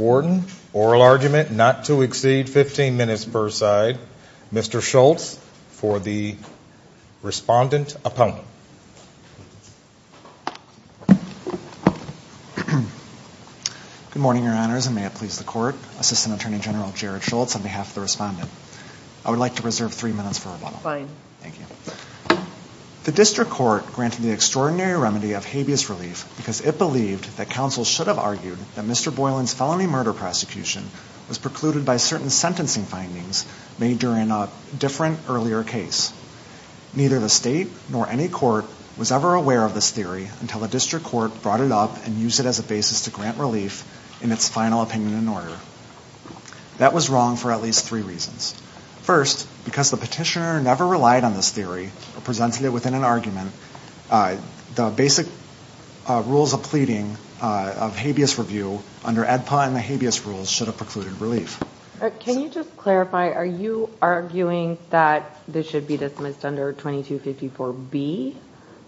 Warden. Oral argument not to exceed 15 minutes per side. Mr. Schultz for the respondent opponent. Good morning, your honors, and may it please the court. Assistant Attorney General Jared Schultz on behalf of the respondent. I would like to reserve three minutes for rebuttal. Fine. Thank you. The district court granted the extraordinary remedy of habeas relief because it believed that counsel should have argued that Mr. Boylan's felony murder prosecution was precluded by certain sentencing findings made during a different earlier case. Neither the state nor any court was ever aware of this theory until the district court brought it up and used it as a basis to grant relief in its final opinion and order. That was wrong for at least three reasons. First, because the petitioner never relied on this theory or presented it within an argument, the basic rules of pleading of habeas review under AEDPA and the habeas rules should have precluded relief. Can you just clarify, are you arguing that this should be dismissed under 2254B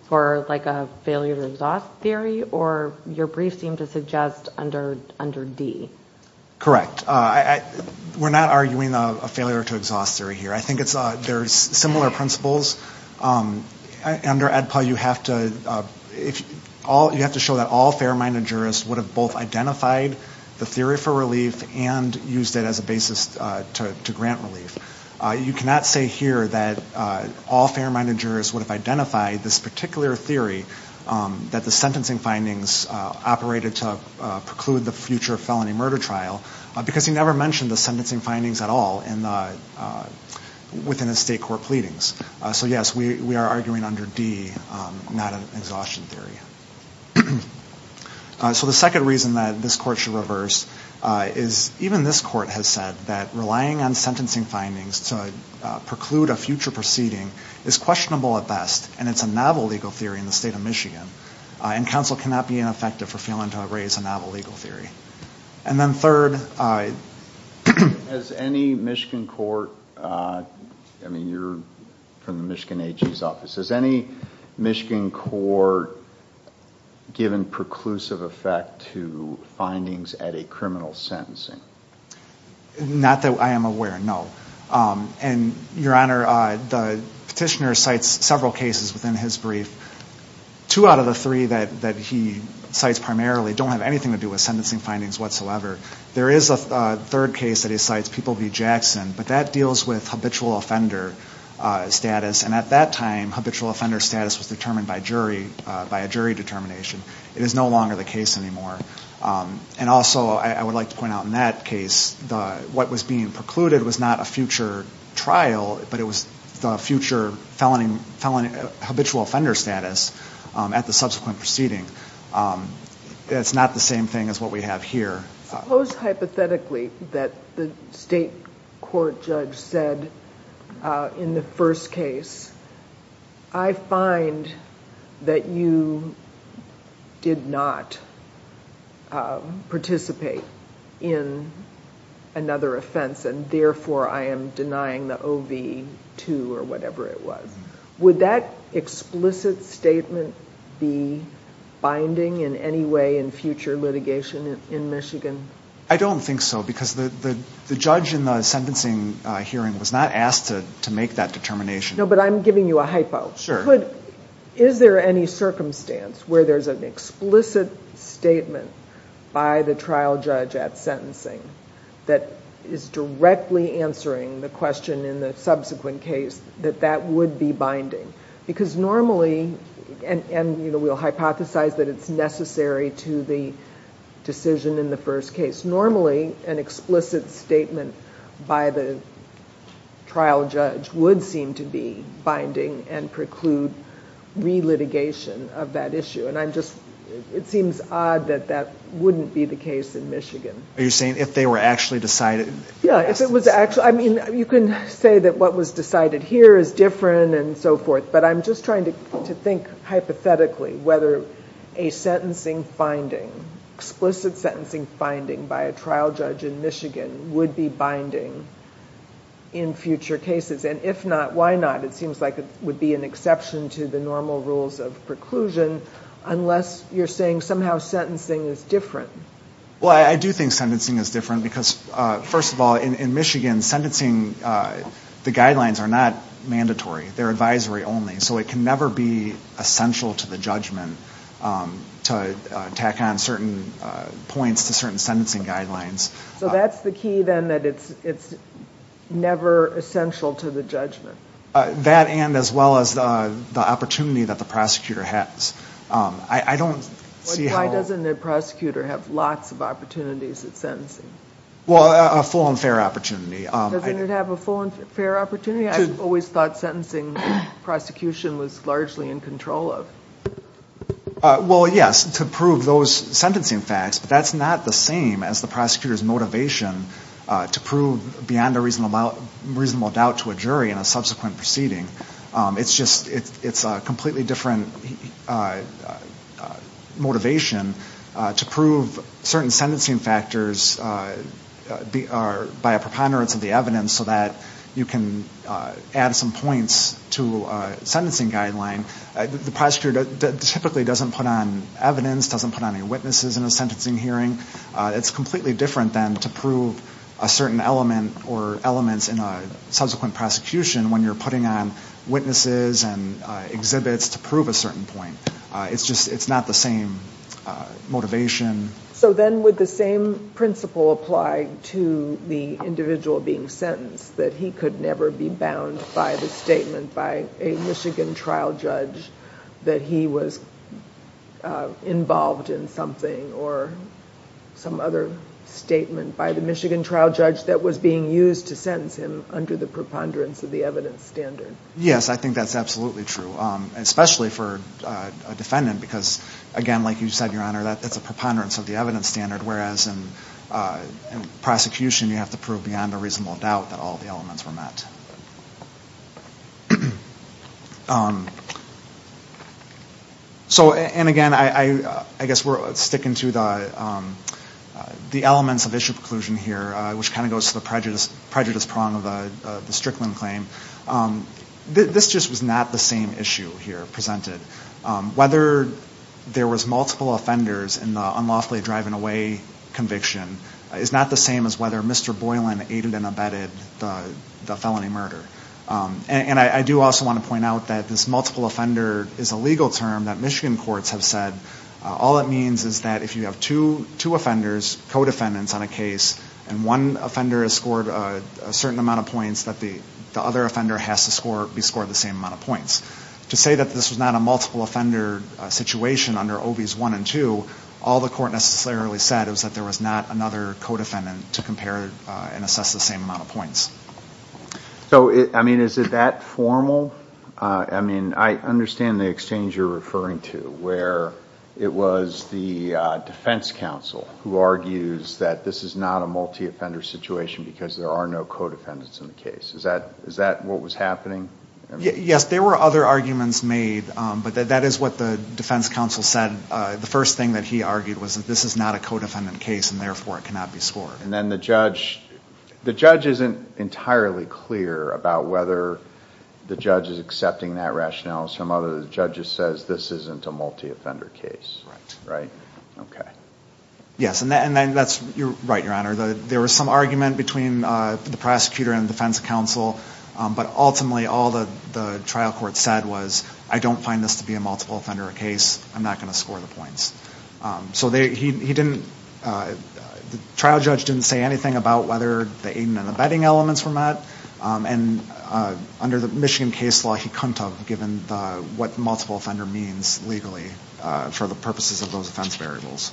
for like a failure to exhaust theory or your brief seemed to suggest under D? Correct. We're not arguing a failure to exhaust theory here. I think there's similar principles. Under AEDPA, you have to show that all fair-minded jurists would have both identified the theory for relief and used it as a basis to grant relief. You cannot say here that all fair-minded jurists would have identified this particular theory, that the sentencing findings operated to preclude the future felony murder trial, because he never mentioned the sentencing findings at all within his state court pleadings. So yes, we are arguing under D, not an exhaustion theory. So the second reason that this court should reverse is even this court has said that relying on sentencing findings to preclude a future proceeding is questionable at best and it's a novel legal theory in the state of Michigan and counsel cannot be ineffective for failing to erase a novel legal theory. And then third... Has any Michigan court, I mean you're from the Michigan AG's office, has any Michigan court given preclusive effect to findings at a criminal sentencing? Not that I am aware, no. And Your Honor, the petitioner cites several cases within his brief. Two out of the three that he cites primarily don't have anything to do with sentencing findings whatsoever. There is a third case that he cites, People v. Jackson, but that deals with habitual offender status and at that time habitual offender status was determined by a jury determination. It is no longer the case anymore. And also I would like to point out in that case what was being precluded was not a future trial, but it was the future habitual offender status at the subsequent proceeding. It's not the same thing as what we have here. Suppose hypothetically that the state court judge said in the first case, I find that you are not, did not participate in another offense and therefore I am denying the O.V. 2 or whatever it was. Would that explicit statement be binding in any way in future litigation in Michigan? I don't think so because the judge in the sentencing hearing was not asked to make that determination. No, but I'm giving you a hypo. Is there any circumstance where there's an explicit statement by the trial judge at sentencing that is directly answering the question in the subsequent case that that would be binding? Because normally, and we'll hypothesize that it's necessary to the decision in the first case, normally an explicit trial judge would seem to be binding and preclude re-litigation of that issue. And I'm just, it seems odd that that wouldn't be the case in Michigan. Are you saying if they were actually decided? Yeah, if it was actually, I mean, you can say that what was decided here is different and so forth, but I'm just trying to say that I don't think explicit sentencing finding by a trial judge in Michigan would be binding in future cases. And if not, why not? It seems like it would be an exception to the normal rules of preclusion unless you're saying somehow sentencing is different. Well, I do think sentencing is different because, first of all, in Michigan sentencing, the guidelines are not mandatory. They're advisory only. So it can never be essential to the judgment to tack on certain points to certain sentencing guidelines. So that's the key then, that it's never essential to the judgment? That and as well as the opportunity that the prosecutor has. I don't see how... Why doesn't the prosecutor have lots of opportunities at sentencing? Well, a full and fair opportunity. Doesn't it have a full and fair opportunity? I've always thought sentencing prosecution was largely in control of. Well, yes, to prove those sentencing facts, but that's not the same as the prosecutor's motivation to prove beyond a reasonable doubt to a jury in a subsequent proceeding. It's just, it's a completely different motivation to prove certain sentencing factors in a subsequent proceeding. By a preponderance of the evidence so that you can add some points to a sentencing guideline. The prosecutor typically doesn't put on evidence, doesn't put on any witnesses in a sentencing hearing. It's completely different then to prove a certain element or elements in a subsequent prosecution when you're putting on witnesses and exhibits to prove a certain point. It's just, it's not the same motivation. So then would the same principle apply to the individual being sentenced, that he could never be bound by the statement by a Michigan trial judge that he was involved in something or some other statement by the Michigan trial judge that was being used to sentence him under the preponderance of the evidence standard? Yes, I think that's absolutely true, especially for a defendant because, again, like you said, Your Honor, that's a preponderance of the evidence. It's a preponderance of the evidence standard, whereas in prosecution you have to prove beyond a reasonable doubt that all the elements were met. So, and again, I guess we're sticking to the elements of issue preclusion here, which kind of goes to the prejudice prong of the Strickland claim. This just was not the same issue here presented. The multiple offender is a legal term that Michigan courts have said, all it means is that if you have two offenders, co-defendants on a case, and one offender has scored a certain amount of points, that the other offender has to be scored the same amount of points. To say that this was not a multiple offender situation under OBs 1 and 2, all the court necessarily said was that there was not another co-defendant to compare and assess the same amount of points. So, I mean, is it that formal? I mean, I understand the exchange you're referring to, where it was the defense counsel who argues that this is not a multi-offender situation because there are no co-defendants in the case. Is that what was happening? Yes, there were other arguments made, but that is what the defense counsel said. The first thing that he argued was that this is not a co-defendant case, and therefore it cannot be scored. And then the judge, the judge isn't entirely clear about whether the judge is accepting that rationale. Some of the judges says this isn't a multi-offender case, right? Okay. Yes, and then that's right, Your Honor. There was some argument between the prosecutor and the defense counsel, but ultimately all of the defense counsel argued that this is not a multi-offender case. And then all the trial court said was, I don't find this to be a multi-offender case. I'm not going to score the points. So he didn't, the trial judge didn't say anything about whether the aiding and abetting elements were met, and under the Michigan case law he couldn't have given what multi-offender means legally for the purposes of those offense variables.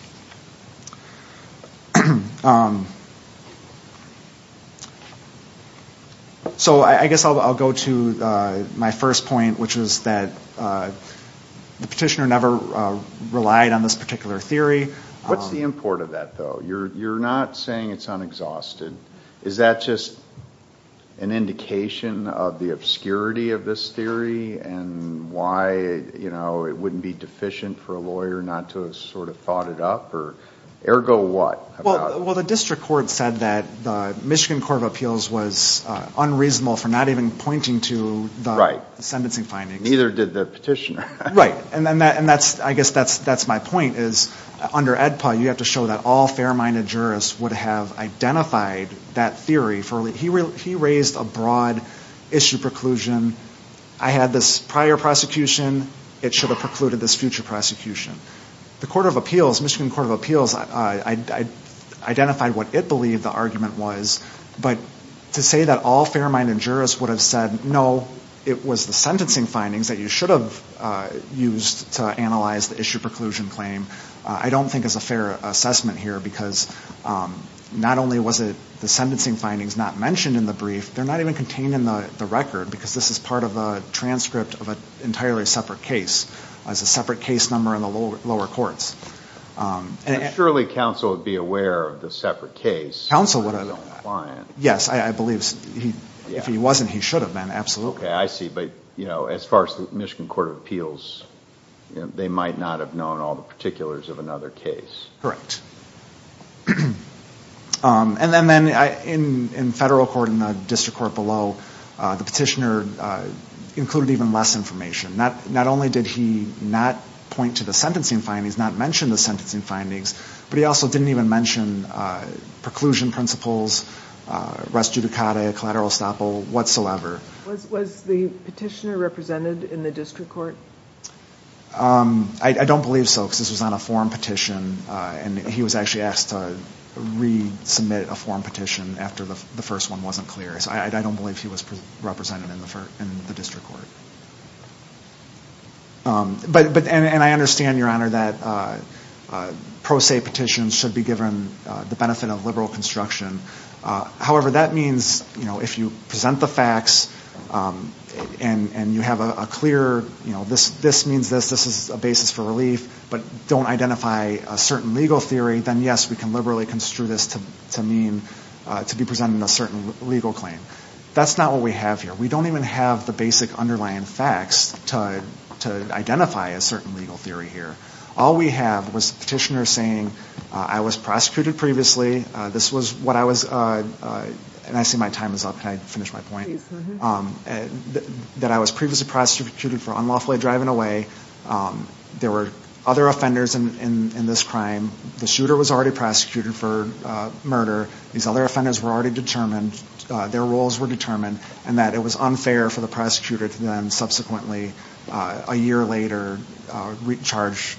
So I guess I'll go to my first point, which is that the petitioner never relied on this particular theory. What's the import of that, though? You're not saying it's unexhausted. Is that just an indication of the obscurity of this theory and why, you know, it wouldn't be deficient for a lawyer not to have sort of thought it up? Ergo what? Well, the district court said that the Michigan Court of Appeals was unreasonable for not even pointing to the sentencing findings. Right. Neither did the petitioner. Right. And I guess that's my point, is under AEDPA you have to show that all fair-minded jurists would have identified that theory. He raised a broad issue preclusion. I had this prior prosecution. It should have precluded this future prosecution. The Court of Appeals, Michigan Court of Appeals, identified what it believed the argument was, but to say that all fair-minded jurists would have said, no, it was the sentencing findings that you should have used to analyze the issue preclusion claim, I don't think is a fair assessment here, because not only was it the sentencing findings not mentioned in the brief, they're not even contained in the record, because this is part of a transcript of an entirely separate case. It's a separate case number in the lower courts. Surely counsel would be aware of the separate case. Yes, I believe if he wasn't, he should have been, absolutely. Okay, I see, but as far as the Michigan Court of Appeals, they might not have known all the particulars of another case. Correct. And then in federal court and the district court below, the petitioner included even less information. Not only did he not point to the sentencing findings, not mention the sentencing findings, but he also didn't even mention preclusion principles, res judicata, collateral estoppel, whatsoever. Was the petitioner represented in the district court? I don't believe so, because this was on a forum petition, and he was actually asked to resubmit a forum petition after the first one wasn't clear. So I don't believe he was represented in the district court. And I understand, Your Honor, that pro se petitions should be given the benefit of liberal construction. However, that means if you present the facts, and you have a clear, this means this, this is a basis for relief, but don't identify a certain legal theory, then yes, we can liberally construe this to be presenting a certain legal claim. That's not what we have here. We don't even have the basic underlying facts to identify a certain legal theory here. All we have was a petitioner saying, I was prosecuted previously, this was what I was, and I see my time is up, can I finish my point? That I was previously prosecuted for unlawfully driving away, there were other offenders in this crime, the shooter was already prosecuted for murder, these other offenders were already determined, their roles were determined, and that it was unfair for the prosecutor to then subsequently, a year later, charge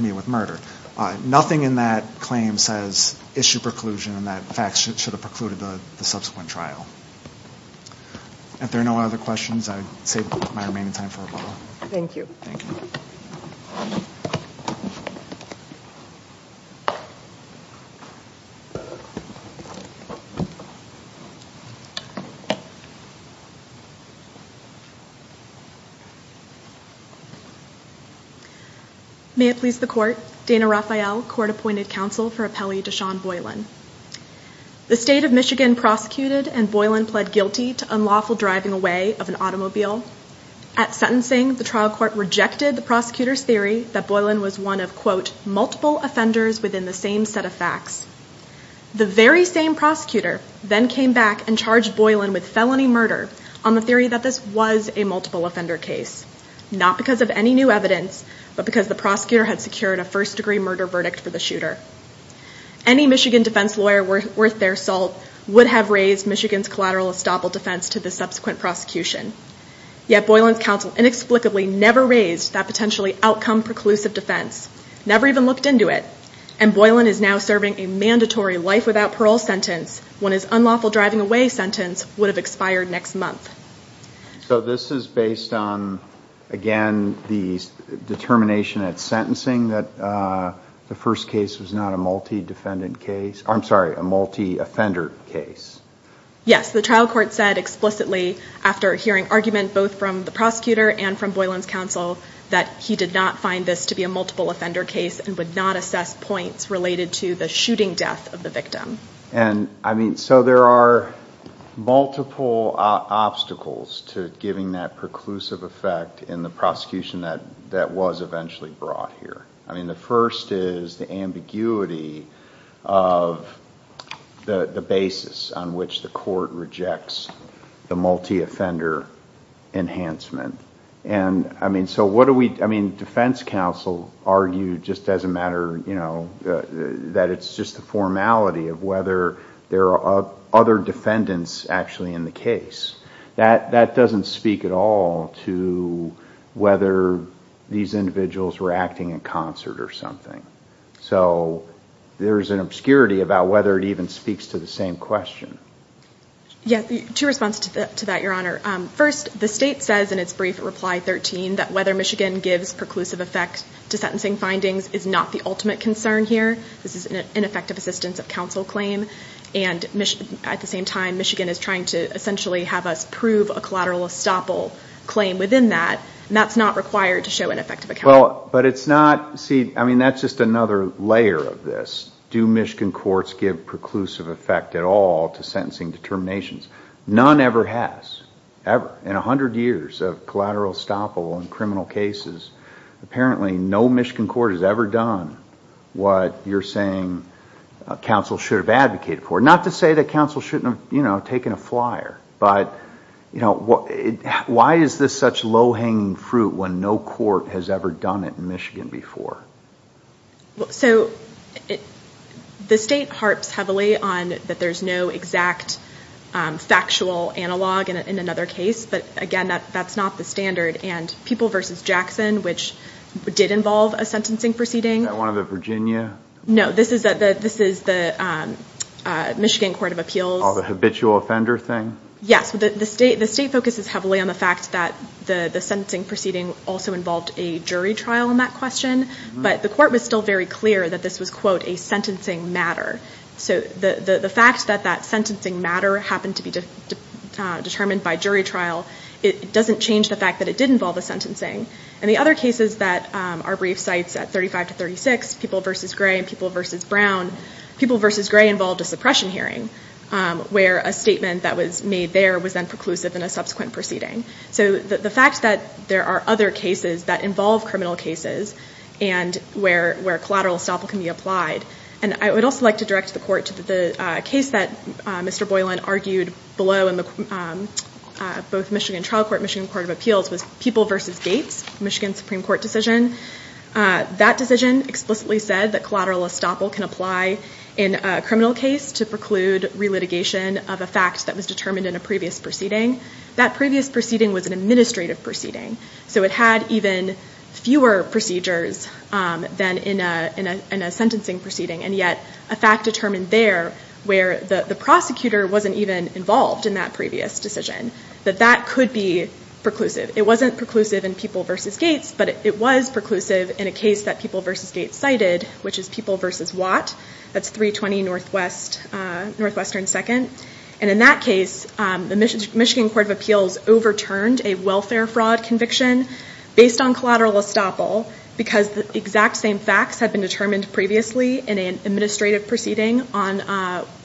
me with murder. Nothing in that claim says issue preclusion and that facts should have precluded the subsequent trial. If there are no other questions, I save my remaining time for rebuttal. Thank you. May it please the court, Dana Raphael, Court Appointed Counsel for Appellee Deshaun Boylan. The state of Michigan prosecuted and Boylan pled guilty to unlawful driving away of an automobile. At sentencing, the trial court rejected the prosecutor's theory that Boylan was one of, quote, multiple offenders within the same set of facts. The victim was not the victim. The very same prosecutor then came back and charged Boylan with felony murder on the theory that this was a multiple offender case. Not because of any new evidence, but because the prosecutor had secured a first degree murder verdict for the shooter. Any Michigan defense lawyer worth their salt would have raised Michigan's collateral estoppel defense to the subsequent prosecution. Yet Boylan's counsel inexplicably never raised that potentially outcome preclusive defense, never even looked into it, and Boylan is now serving a mandatory life without parole sentence when his unlawful driving away sentence would have expired next month. So this is based on, again, the determination at sentencing that the first case was not a multi defendant case, I'm sorry, a multi offender case. Yes, the trial court said explicitly after hearing argument both from the prosecutor and from Boylan's counsel that he did not find this to be a multiple offender case and would not assess points related to the shooting death of the victim. And, I mean, so there are multiple obstacles to giving that preclusive effect in the prosecution that was eventually brought here. I mean, the first is the ambiguity of the basis on which the court rejects the multi offender enhancement. And, I mean, so what do we, I mean, defense counsel argued just as a matter, you know, that it's just the formality of whether there are other defendants actually in the case. That doesn't speak at all to whether these individuals were acting in concert or something. So there's an obscurity about whether it even speaks to the same question. Yes, two responses to that, Your Honor. First, the state says in its brief reply 13 that whether Michigan gives preclusive effect to sentencing findings is not the ultimate concern here. This is an ineffective assistance of counsel claim. And, at the same time, Michigan is trying to essentially have us prove a collateral estoppel claim within that. And that's not required to show an effective account. Well, but it's not, see, I mean, that's just another layer of this. Do Michigan courts give preclusive effect at all to sentencing determinations? None ever has, ever. In 100 years of collateral estoppel in criminal cases, apparently no Michigan court has ever done what you're saying counsel should have advocated for. Not to say that counsel shouldn't have, you know, taken a flyer. But, you know, why is this such low-hanging fruit when no court has ever done it in Michigan before? So the state harps heavily on that there's no exact factual analog in another case. But, again, that's not the standard. And People v. Jackson, which did involve a sentencing proceeding. Is that one of the Virginia? No, this is the Michigan Court of Appeals. Oh, the habitual offender thing? Yes, the state focuses heavily on the fact that the sentencing proceeding also involved a jury trial in that question. But the court was still very clear that this was, quote, a sentencing matter. So the fact that that sentencing matter happened to be determined by jury trial, it doesn't change the fact that it did involve a sentencing. And the other cases that our brief cites at 35 to 36, People v. Gray and People v. Brown, People v. Gray involved a suppression hearing. Where a statement that was made there was then preclusive in a subsequent proceeding. So the fact that there are other cases that involve criminal cases and where collateral estoppel can be applied. And I would also like to direct the court to the case that Mr. Boylan argued below in both Michigan Trial Court and Michigan Court of Appeals was People v. Gates, Michigan Supreme Court decision. That decision explicitly said that collateral estoppel can apply in a criminal case to preclude relitigation of a fact that was determined in a previous proceeding. That previous proceeding was an administrative proceeding. So it had even fewer procedures than in a sentencing proceeding. And yet a fact determined there where the prosecutor wasn't even involved in that previous decision. That that could be preclusive. It wasn't preclusive in People v. Gates, but it was preclusive in a case that People v. Gates cited, which is People v. Watt. That's 320 Northwestern 2nd. And in that case, the Michigan Court of Appeals overturned a welfare fraud conviction based on collateral estoppel. Because the exact same facts had been determined previously in an administrative proceeding on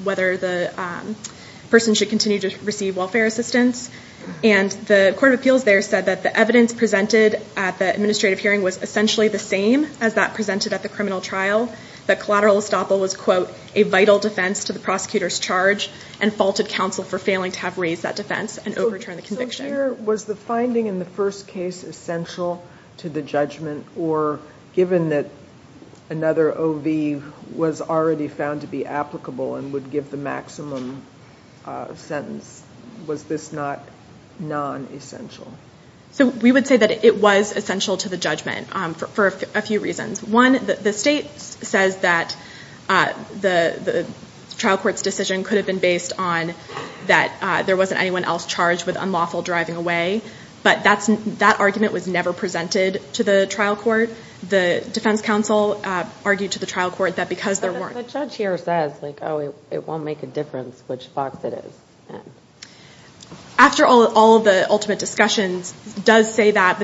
whether the person should continue to receive welfare assistance. And the Court of Appeals there said that the evidence presented at the administrative hearing was essentially the same as that presented at the criminal trial. That collateral estoppel was, quote, a vital defense to the prosecutor's charge and faulted counsel for failing to have raised that defense and overturned the conviction. So was the finding in the first case essential to the judgment? Or given that another O.V. was already found to be applicable and would give the maximum sentence, was this not non-essential? So we would say that it was essential to the judgment for a few reasons. One, the state says that the trial court's decision could have been based on that there wasn't anyone else charged with unlawful driving away. But that argument was never presented to the trial court. The defense counsel argued to the trial court that because there weren't... The judge here says, like, oh, it won't make a difference which box it is in. After all of the ultimate discussions does say that.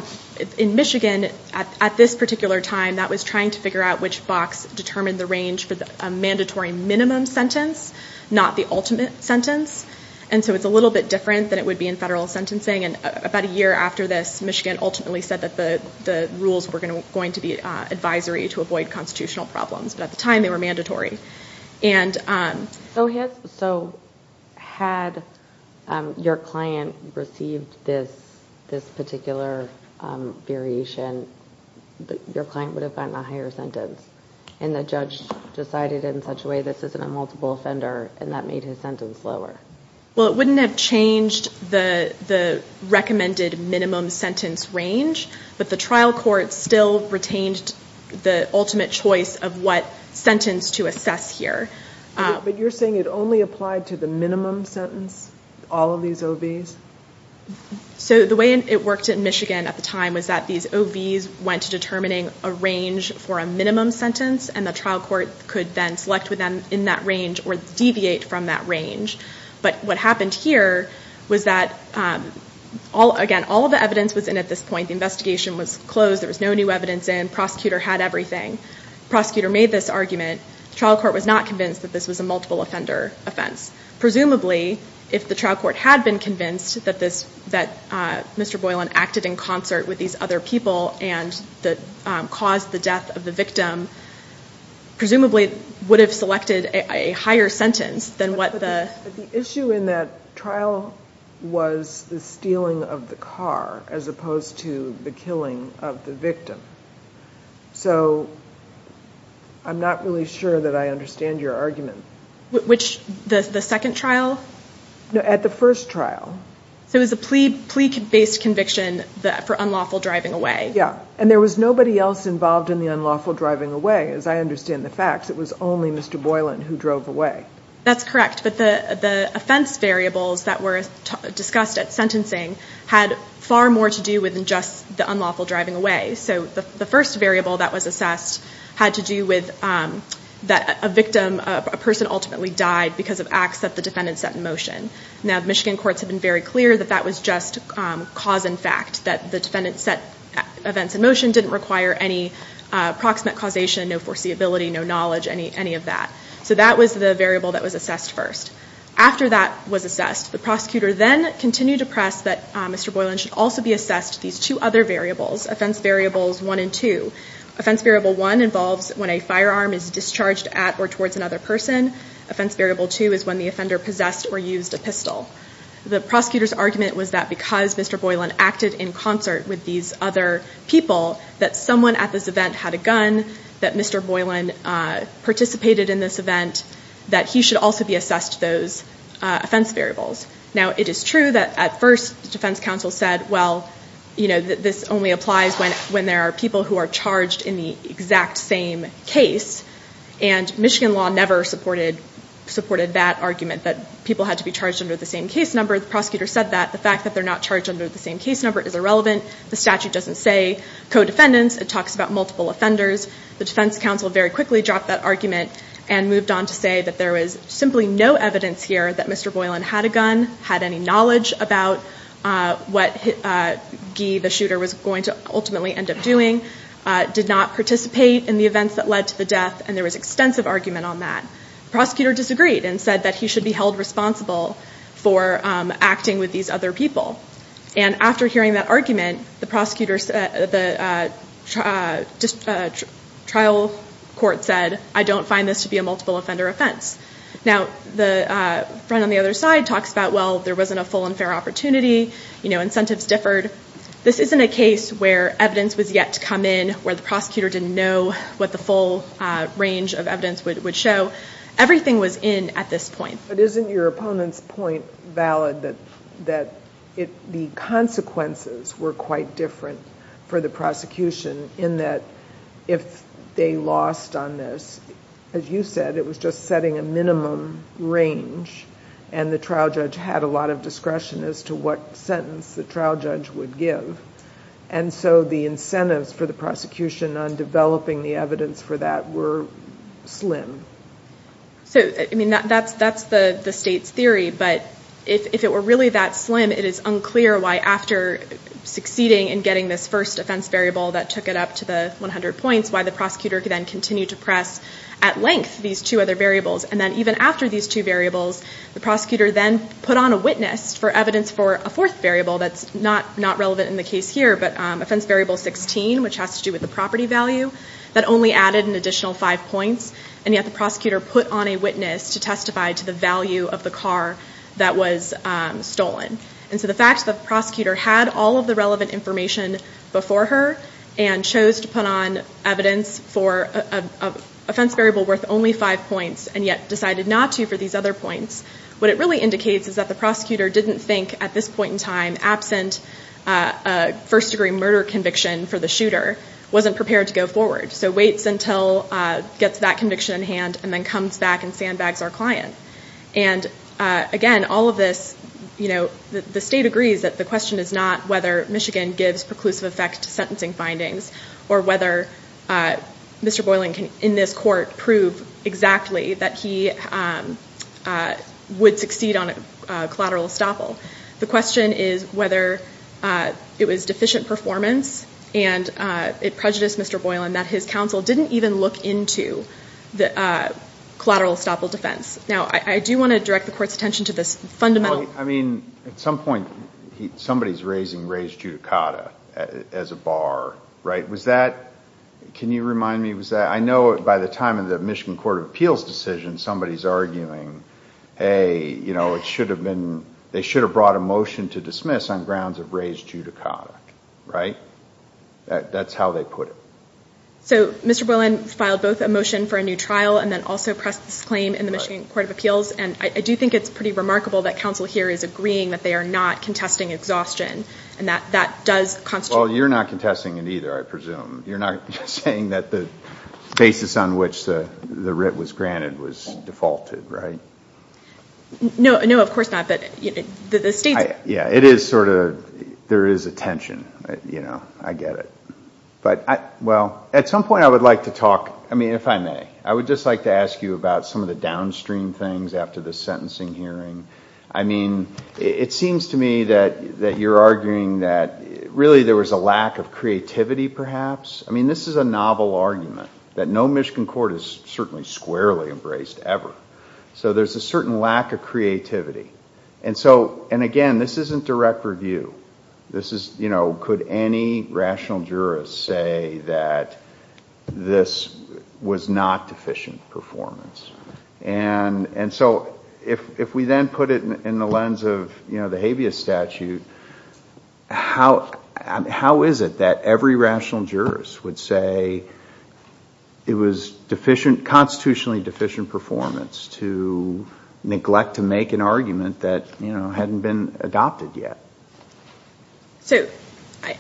In Michigan, at this particular time, that was trying to figure out which box determined the range for a mandatory minimum sentence, not the ultimate sentence. And so it's a little bit different than it would be in federal sentencing. And about a year after this, Michigan ultimately said that the rules were going to be advisory to avoid constitutional problems. But at the time, they were mandatory. So had your client received this particular variation, your client would have gotten a higher sentence. And the judge decided in such a way, this isn't a multiple offender, and that made his sentence lower. Well, it wouldn't have changed the recommended minimum sentence range. But the trial court still retained the ultimate choice of what sentence to assess here. But you're saying it only applied to the minimum sentence, all of these OVs? So the way it worked in Michigan at the time was that these OVs went to determining a range for a minimum sentence. And the trial court could then select within that range or deviate from that range. But what happened here was that, again, all of the evidence was in at this point. The investigation was closed. There was no new evidence in. Prosecutor had everything. Prosecutor made this argument. The trial court was not convinced that this was a multiple offender offense. Presumably, if the trial court had been convinced that Mr. Boylan acted in concert with these other people and caused the death of the victim, presumably it would have selected a higher sentence than what the... But the issue in that trial was the stealing of the car as opposed to the killing of the victim. So I'm not really sure that I understand your argument. Which? The second trial? No, at the first trial. So it was a plea-based conviction for unlawful driving away? Yeah. And there was nobody else involved in the unlawful driving away. As I understand the facts, it was only Mr. Boylan who drove away. That's correct. But the offense variables that were discussed at sentencing had far more to do with than just the unlawful driving away. So the first variable that was assessed had to do with that a victim, a person ultimately died because of acts that the defendant set in motion. Now, Michigan courts have been very clear that that was just cause and fact. That the defendant set events in motion didn't require any proximate causation, no foreseeability, no knowledge, any of that. So that was the variable that was assessed first. After that was assessed, the prosecutor then continued to press that Mr. Boylan should also be assessed these two other variables. Offense variables one and two. Offense variable one involves when a firearm is discharged at or towards another person. Offense variable two is when the offender possessed or used a pistol. The prosecutor's argument was that because Mr. Boylan acted in concert with these other people, that someone at this event had a gun, that Mr. Boylan participated in this event, that he should also be assessed those offense variables. Now, it is true that at first the defense counsel said, well, you know, this only applies when there are people who are charged in the exact same case. And Michigan law never supported that argument that people had to be charged under the same case number. The prosecutor said that the fact that they're not charged under the same case number is irrelevant. The statute doesn't say co-defendants. It talks about multiple offenders. The defense counsel very quickly dropped that argument and moved on to say that there was simply no evidence here that Mr. Boylan had a gun, had any knowledge about what Guy, the shooter, was going to ultimately end up doing, did not participate in the events that led to the death, and there was extensive argument on that. The prosecutor disagreed and said that he should be held responsible for acting with these other people. And after hearing that argument, the trial court said, I don't find this to be a multiple offender offense. Now, the friend on the other side talks about, well, there wasn't a full and fair opportunity, incentives differed. This isn't a case where evidence was yet to come in, where the prosecutor didn't know what the full range of evidence would show. Everything was in at this point. But isn't your opponent's point valid that the consequences were quite different for the prosecution in that if they lost on this, as you said, it was just setting a minimum range and the trial judge had a lot of discretion as to what sentence the trial judge would give. And so the incentives for the prosecution on developing the evidence for that were slim. So, I mean, that's the state's theory, but if it were really that slim, it is unclear why after succeeding in getting this first offense variable that took it up to the 100 points, why the prosecutor could then continue to press at length these two other variables. And then even after these two variables, the prosecutor then put on a witness for evidence for a fourth variable that's not relevant in the case here, but offense variable 16, which has to do with the property value, that only added an additional five points. And yet the prosecutor put on a witness to testify to the value of the car that was stolen. And so the fact that the prosecutor had all of the relevant information before her and chose to put on evidence for an offense variable worth only five points, and yet decided not to for these other points, what it really indicates is that the prosecutor didn't think at this point in time, absent a first degree murder conviction for the shooter, wasn't prepared to go forward. So waits until gets that conviction in hand and then comes back and sandbags our client. And again, all of this, you know, the state agrees that the question is not whether Michigan gives preclusive effect to sentencing findings or whether Mr. Boylan can, in this court, prove exactly that he would succeed on a collateral estoppel. The question is whether it was deficient performance and it prejudiced Mr. Boylan that his counsel didn't even look into the collateral estoppel defense. Now, I do want to direct the court's attention to this fundamental... I mean, at some point, somebody's raising raised judicata as a bar, right? Was that, can you remind me, was that... I know by the time of the Michigan Court of Appeals decision, somebody's arguing, hey, you know, it should have been, they should have brought a motion to dismiss on grounds of raised judicata, right? That's how they put it. So Mr. Boylan filed both a motion for a new trial and then also pressed this claim in the Michigan Court of Appeals. And I do think it's pretty remarkable that counsel here is agreeing that they are not contesting exhaustion and that that does constitute... Well, you're not contesting it either, I presume. You're not saying that the basis on which the writ was granted was defaulted, right? No, no, of course not. But the state's... Yeah, it is sort of, there is a tension, you know, I get it. But, well, at some point I would like to talk, I mean, if I may, I would just like to ask you about some of the downstream things after the sentencing hearing. I mean, it seems to me that you're arguing that really there was a lack of creativity perhaps. I mean, this is a novel argument that no Michigan court has certainly squarely embraced ever. So there's a certain lack of creativity. And so, and again, this isn't direct review. This is, you know, could any rational jurist say that this was not deficient performance? And so if we then put it in the lens of, you know, the habeas statute, how is it that every rational jurist would say it was deficient, constitutionally deficient performance to neglect to make an argument that, you know, hadn't been adopted yet? So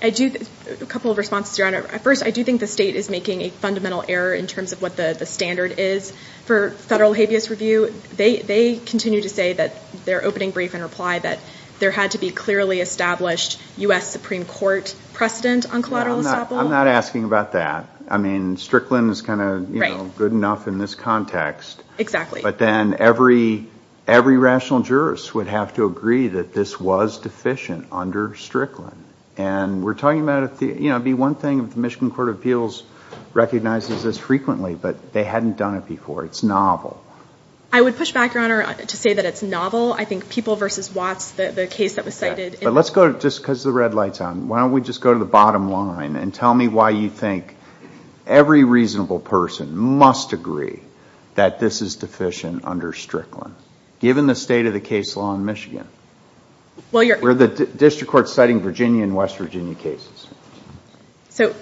I do, a couple of responses around it. First, I do think the state is making a fundamental error in terms of what the standard is for federal habeas review. They continue to say that their opening brief and reply that there had to be clearly established U.S. Supreme Court precedent on collateral estoppel. I'm not asking about that. I mean, Strickland is kind of, you know, good enough in this context. But then every rational jurist would have to agree that this was deficient under Strickland. And we're talking about if the, you know, it would be one thing if the Michigan Court of Appeals recognizes this frequently, but they hadn't done it before. It's novel. I would push back, Your Honor, to say that it's novel. I think People v. Watts, the case that was cited. But let's go to, just because the red light's on, why don't we just go to the bottom line and tell me why you think every reasonable person must agree that this is deficient under Strickland, given the state of the case law in Michigan? Where the district court's citing Virginia and West Virginia cases. So,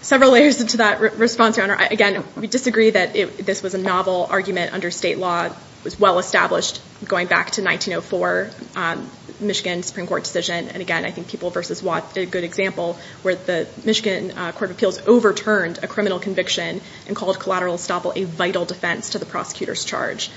several layers to that response, Your Honor. Again, we disagree that this was a novel argument under state law. It was well established going back to 1904, Michigan Supreme Court decision. And again, I think People v. Watts did a good example where the Michigan Court of Appeals overturned a criminal conviction and called collateral estoppel a vital defense to the prosecutor's charge.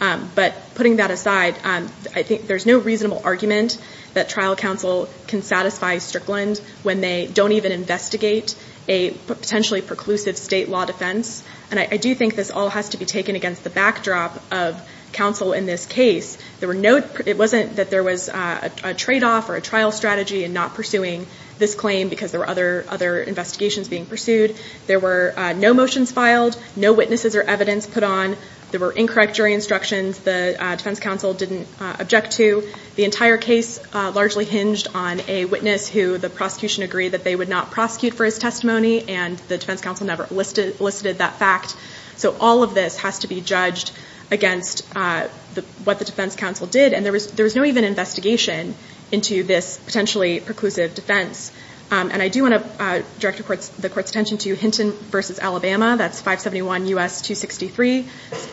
But putting that aside, I think there's no reasonable argument that trial counsel can satisfy Strickland when they don't even investigate a potentially preclusive state law defense. And I do think this all has to be taken against the backdrop of counsel in this case. It wasn't that there was a trade-off or a trial strategy in not pursuing this claim because there were other investigations being pursued. There were no motions filed, no witnesses or evidence put on. There were incorrect jury instructions. The defense counsel didn't object to. The entire case largely hinged on a witness who the prosecution agreed that they would not prosecute for his testimony and the defense counsel never elicited that fact. So, all of this has to be judged against what the defense counsel did. And there was no even investigation into this potentially preclusive defense. And I do want to direct the court's attention to Hinton v. Alabama. That's 571 U.S. 263.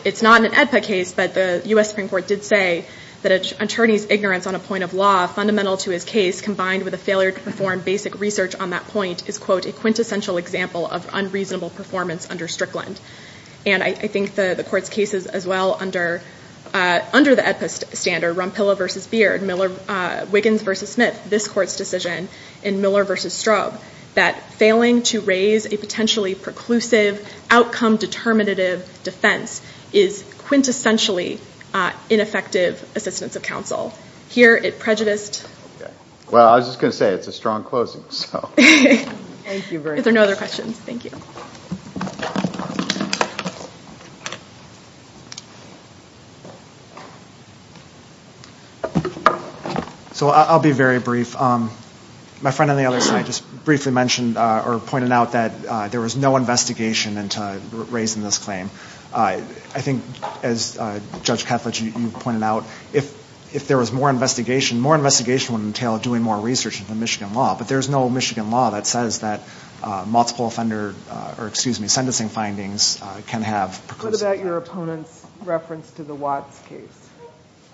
It's not an AEDPA case, but the U.S. Supreme Court did say that an attorney's ignorance on a point of law fundamental to his case combined with a failure to perform basic research on that point is, quote, a quintessential example of unreasonable performance under Strickland. And I think the court's cases as well under the AEDPA standard, Rumpilla v. Beard, Wiggins v. Smith, this court's decision, and Miller v. Strobe, that failing to raise a potentially preclusive outcome-determinative defense against ineffective assistance of counsel. Here, it prejudiced... Well, I was just going to say, it's a strong closing, so... Thank you very much. If there are no other questions, thank you. So, I'll be very brief. My friend on the other side just briefly mentioned or pointed out that there was no investigation into raising this claim. I think, as Judge Kethledge, you pointed out, if there was more investigation, more investigation would entail doing more research into Michigan law. But there's no Michigan law that says that multiple offender, or, excuse me, sentencing findings can have preclusive... What about your opponent's reference to the Watts case?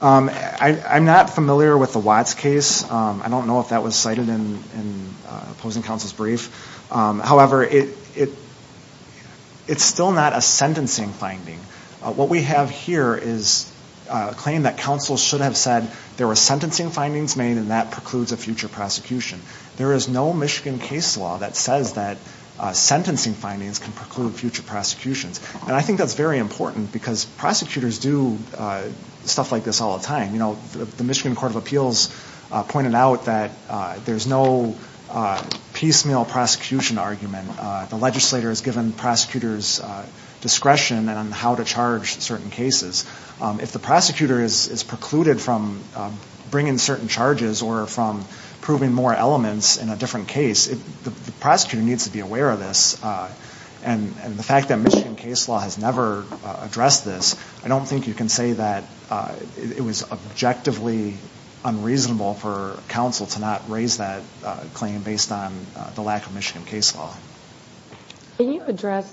I'm not familiar with the Watts case. I don't know if that was cited in opposing counsel's brief. However, it's still not a sentencing case or a sentencing finding. What we have here is a claim that counsel should have said there were sentencing findings made and that precludes a future prosecution. There is no Michigan case law that says that sentencing findings can preclude future prosecutions. And I think that's very important because prosecutors do stuff like this all the time. The Michigan Court of Appeals pointed out that there's no piecemeal prosecution argument. The legislator is given the discretion on how to charge certain cases. If the prosecutor is precluded from bringing certain charges or from proving more elements in a different case, the prosecutor needs to be aware of this. And the fact that Michigan case law has never addressed this, I don't think you can say that it was objectively unreasonable for counsel to not raise that claim based on the lack of Michigan case law. Can you address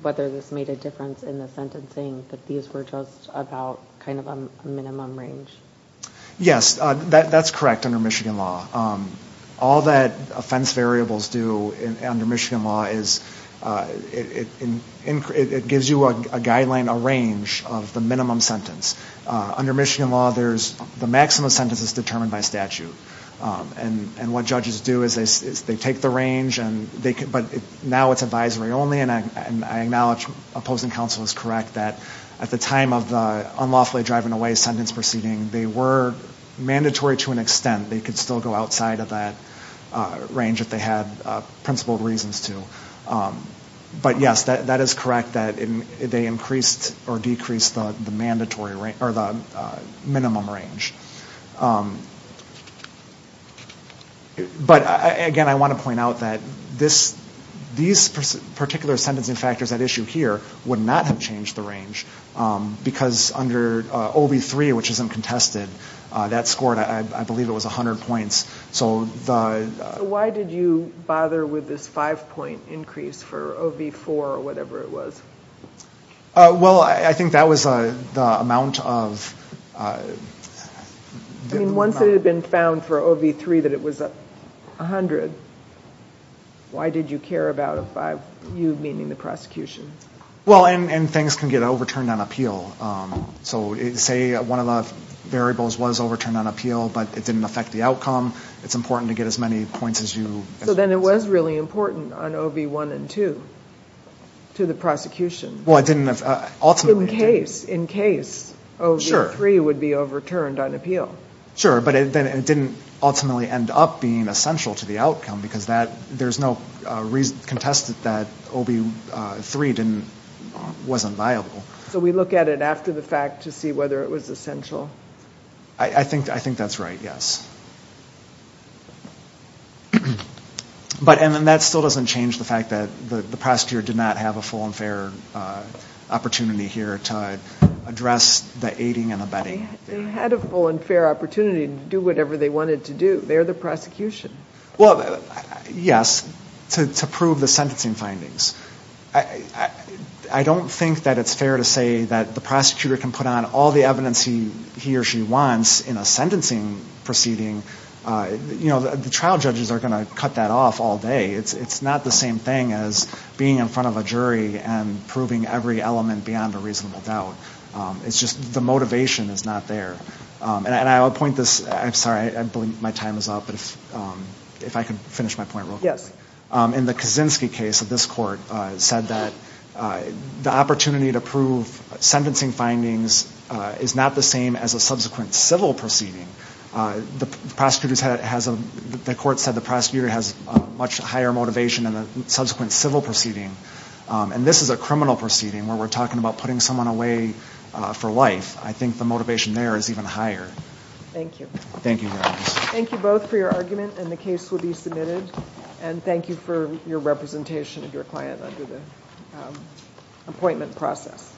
whether this made a difference in the sentencing that these were just about a minimum range? Yes, that's correct under Michigan law. All that offense variables do under Michigan law is it gives you a guideline, a range of the minimum sentence. Under Michigan law, the maximum sentence is determined by statute. And what judges do is they take the range but now it's advisory only and I acknowledge opposing counsel is correct that at the time of the unlawfully driving away sentence proceeding, they were mandatory to an extent. They could still go outside of that range if they had principled reasons to. But yes, that is correct that they increased or decreased the minimum range. But again, I want to point out that these particular sentencing factors at issue here would not have changed the range because under OV-3 which isn't contested, that scored I believe it was 100 points. So why did you bother with this five point increase for OV-4 or whatever it was? Well, I think that was the amount of... I mean once it had been found for OV-3 that it was 100. Why did you care about you meaning the prosecution? Well, and things can get overturned on appeal. So say one of the variables was overturned on appeal but it didn't affect the outcome. It's important to get as many points as you... So then it was really important on OV-1 and 2 to the prosecution. In case OV-3 would be overturned on appeal. Sure, but it didn't ultimately end up being essential to the outcome because there's no reason to contest that OV-3 wasn't viable. So we look at it after the fact to see whether it was essential? I think that's right, yes. But that still doesn't change the fact that the prosecutor did not have a full and fair opportunity here to address the aiding and abetting. They had a full and fair opportunity to do whatever they wanted to do. They're the prosecution. Well, yes. To prove the sentencing findings. I don't think that it's fair to say that the prosecutor can put on all the evidence he or she wants in a sentencing proceeding. The trial judges are going to cut that off all day. It's not the same thing as being in front of a jury and proving every element beyond a reasonable doubt. I'm sorry, I believe my time is up. If I could finish my point real quick. In the Kaczynski case, this court said that the opportunity to prove sentencing findings is not the same as a subsequent civil proceeding. The court said the prosecutor has a much higher motivation than a subsequent civil proceeding. And this is a criminal proceeding where we're talking about putting someone away for life. Thank you very much. Thank you both for your argument and the case will be submitted. And thank you for your representation of your client under the appointment process.